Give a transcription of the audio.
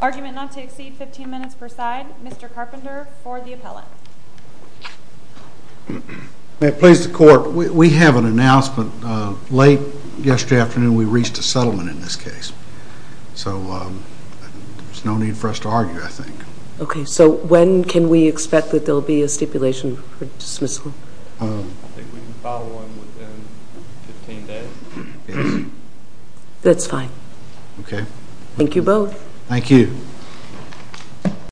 Argument not to exceed 15 minutes per side. Mr. Carpenter for the appellate. May it please the court, we have an announcement. Late yesterday afternoon we reached a settlement in this case. So there's no need for us to argue, I think. Okay, so when can we expect that there will be a stipulation for dismissal? That's fine. Thank you both. Thank you.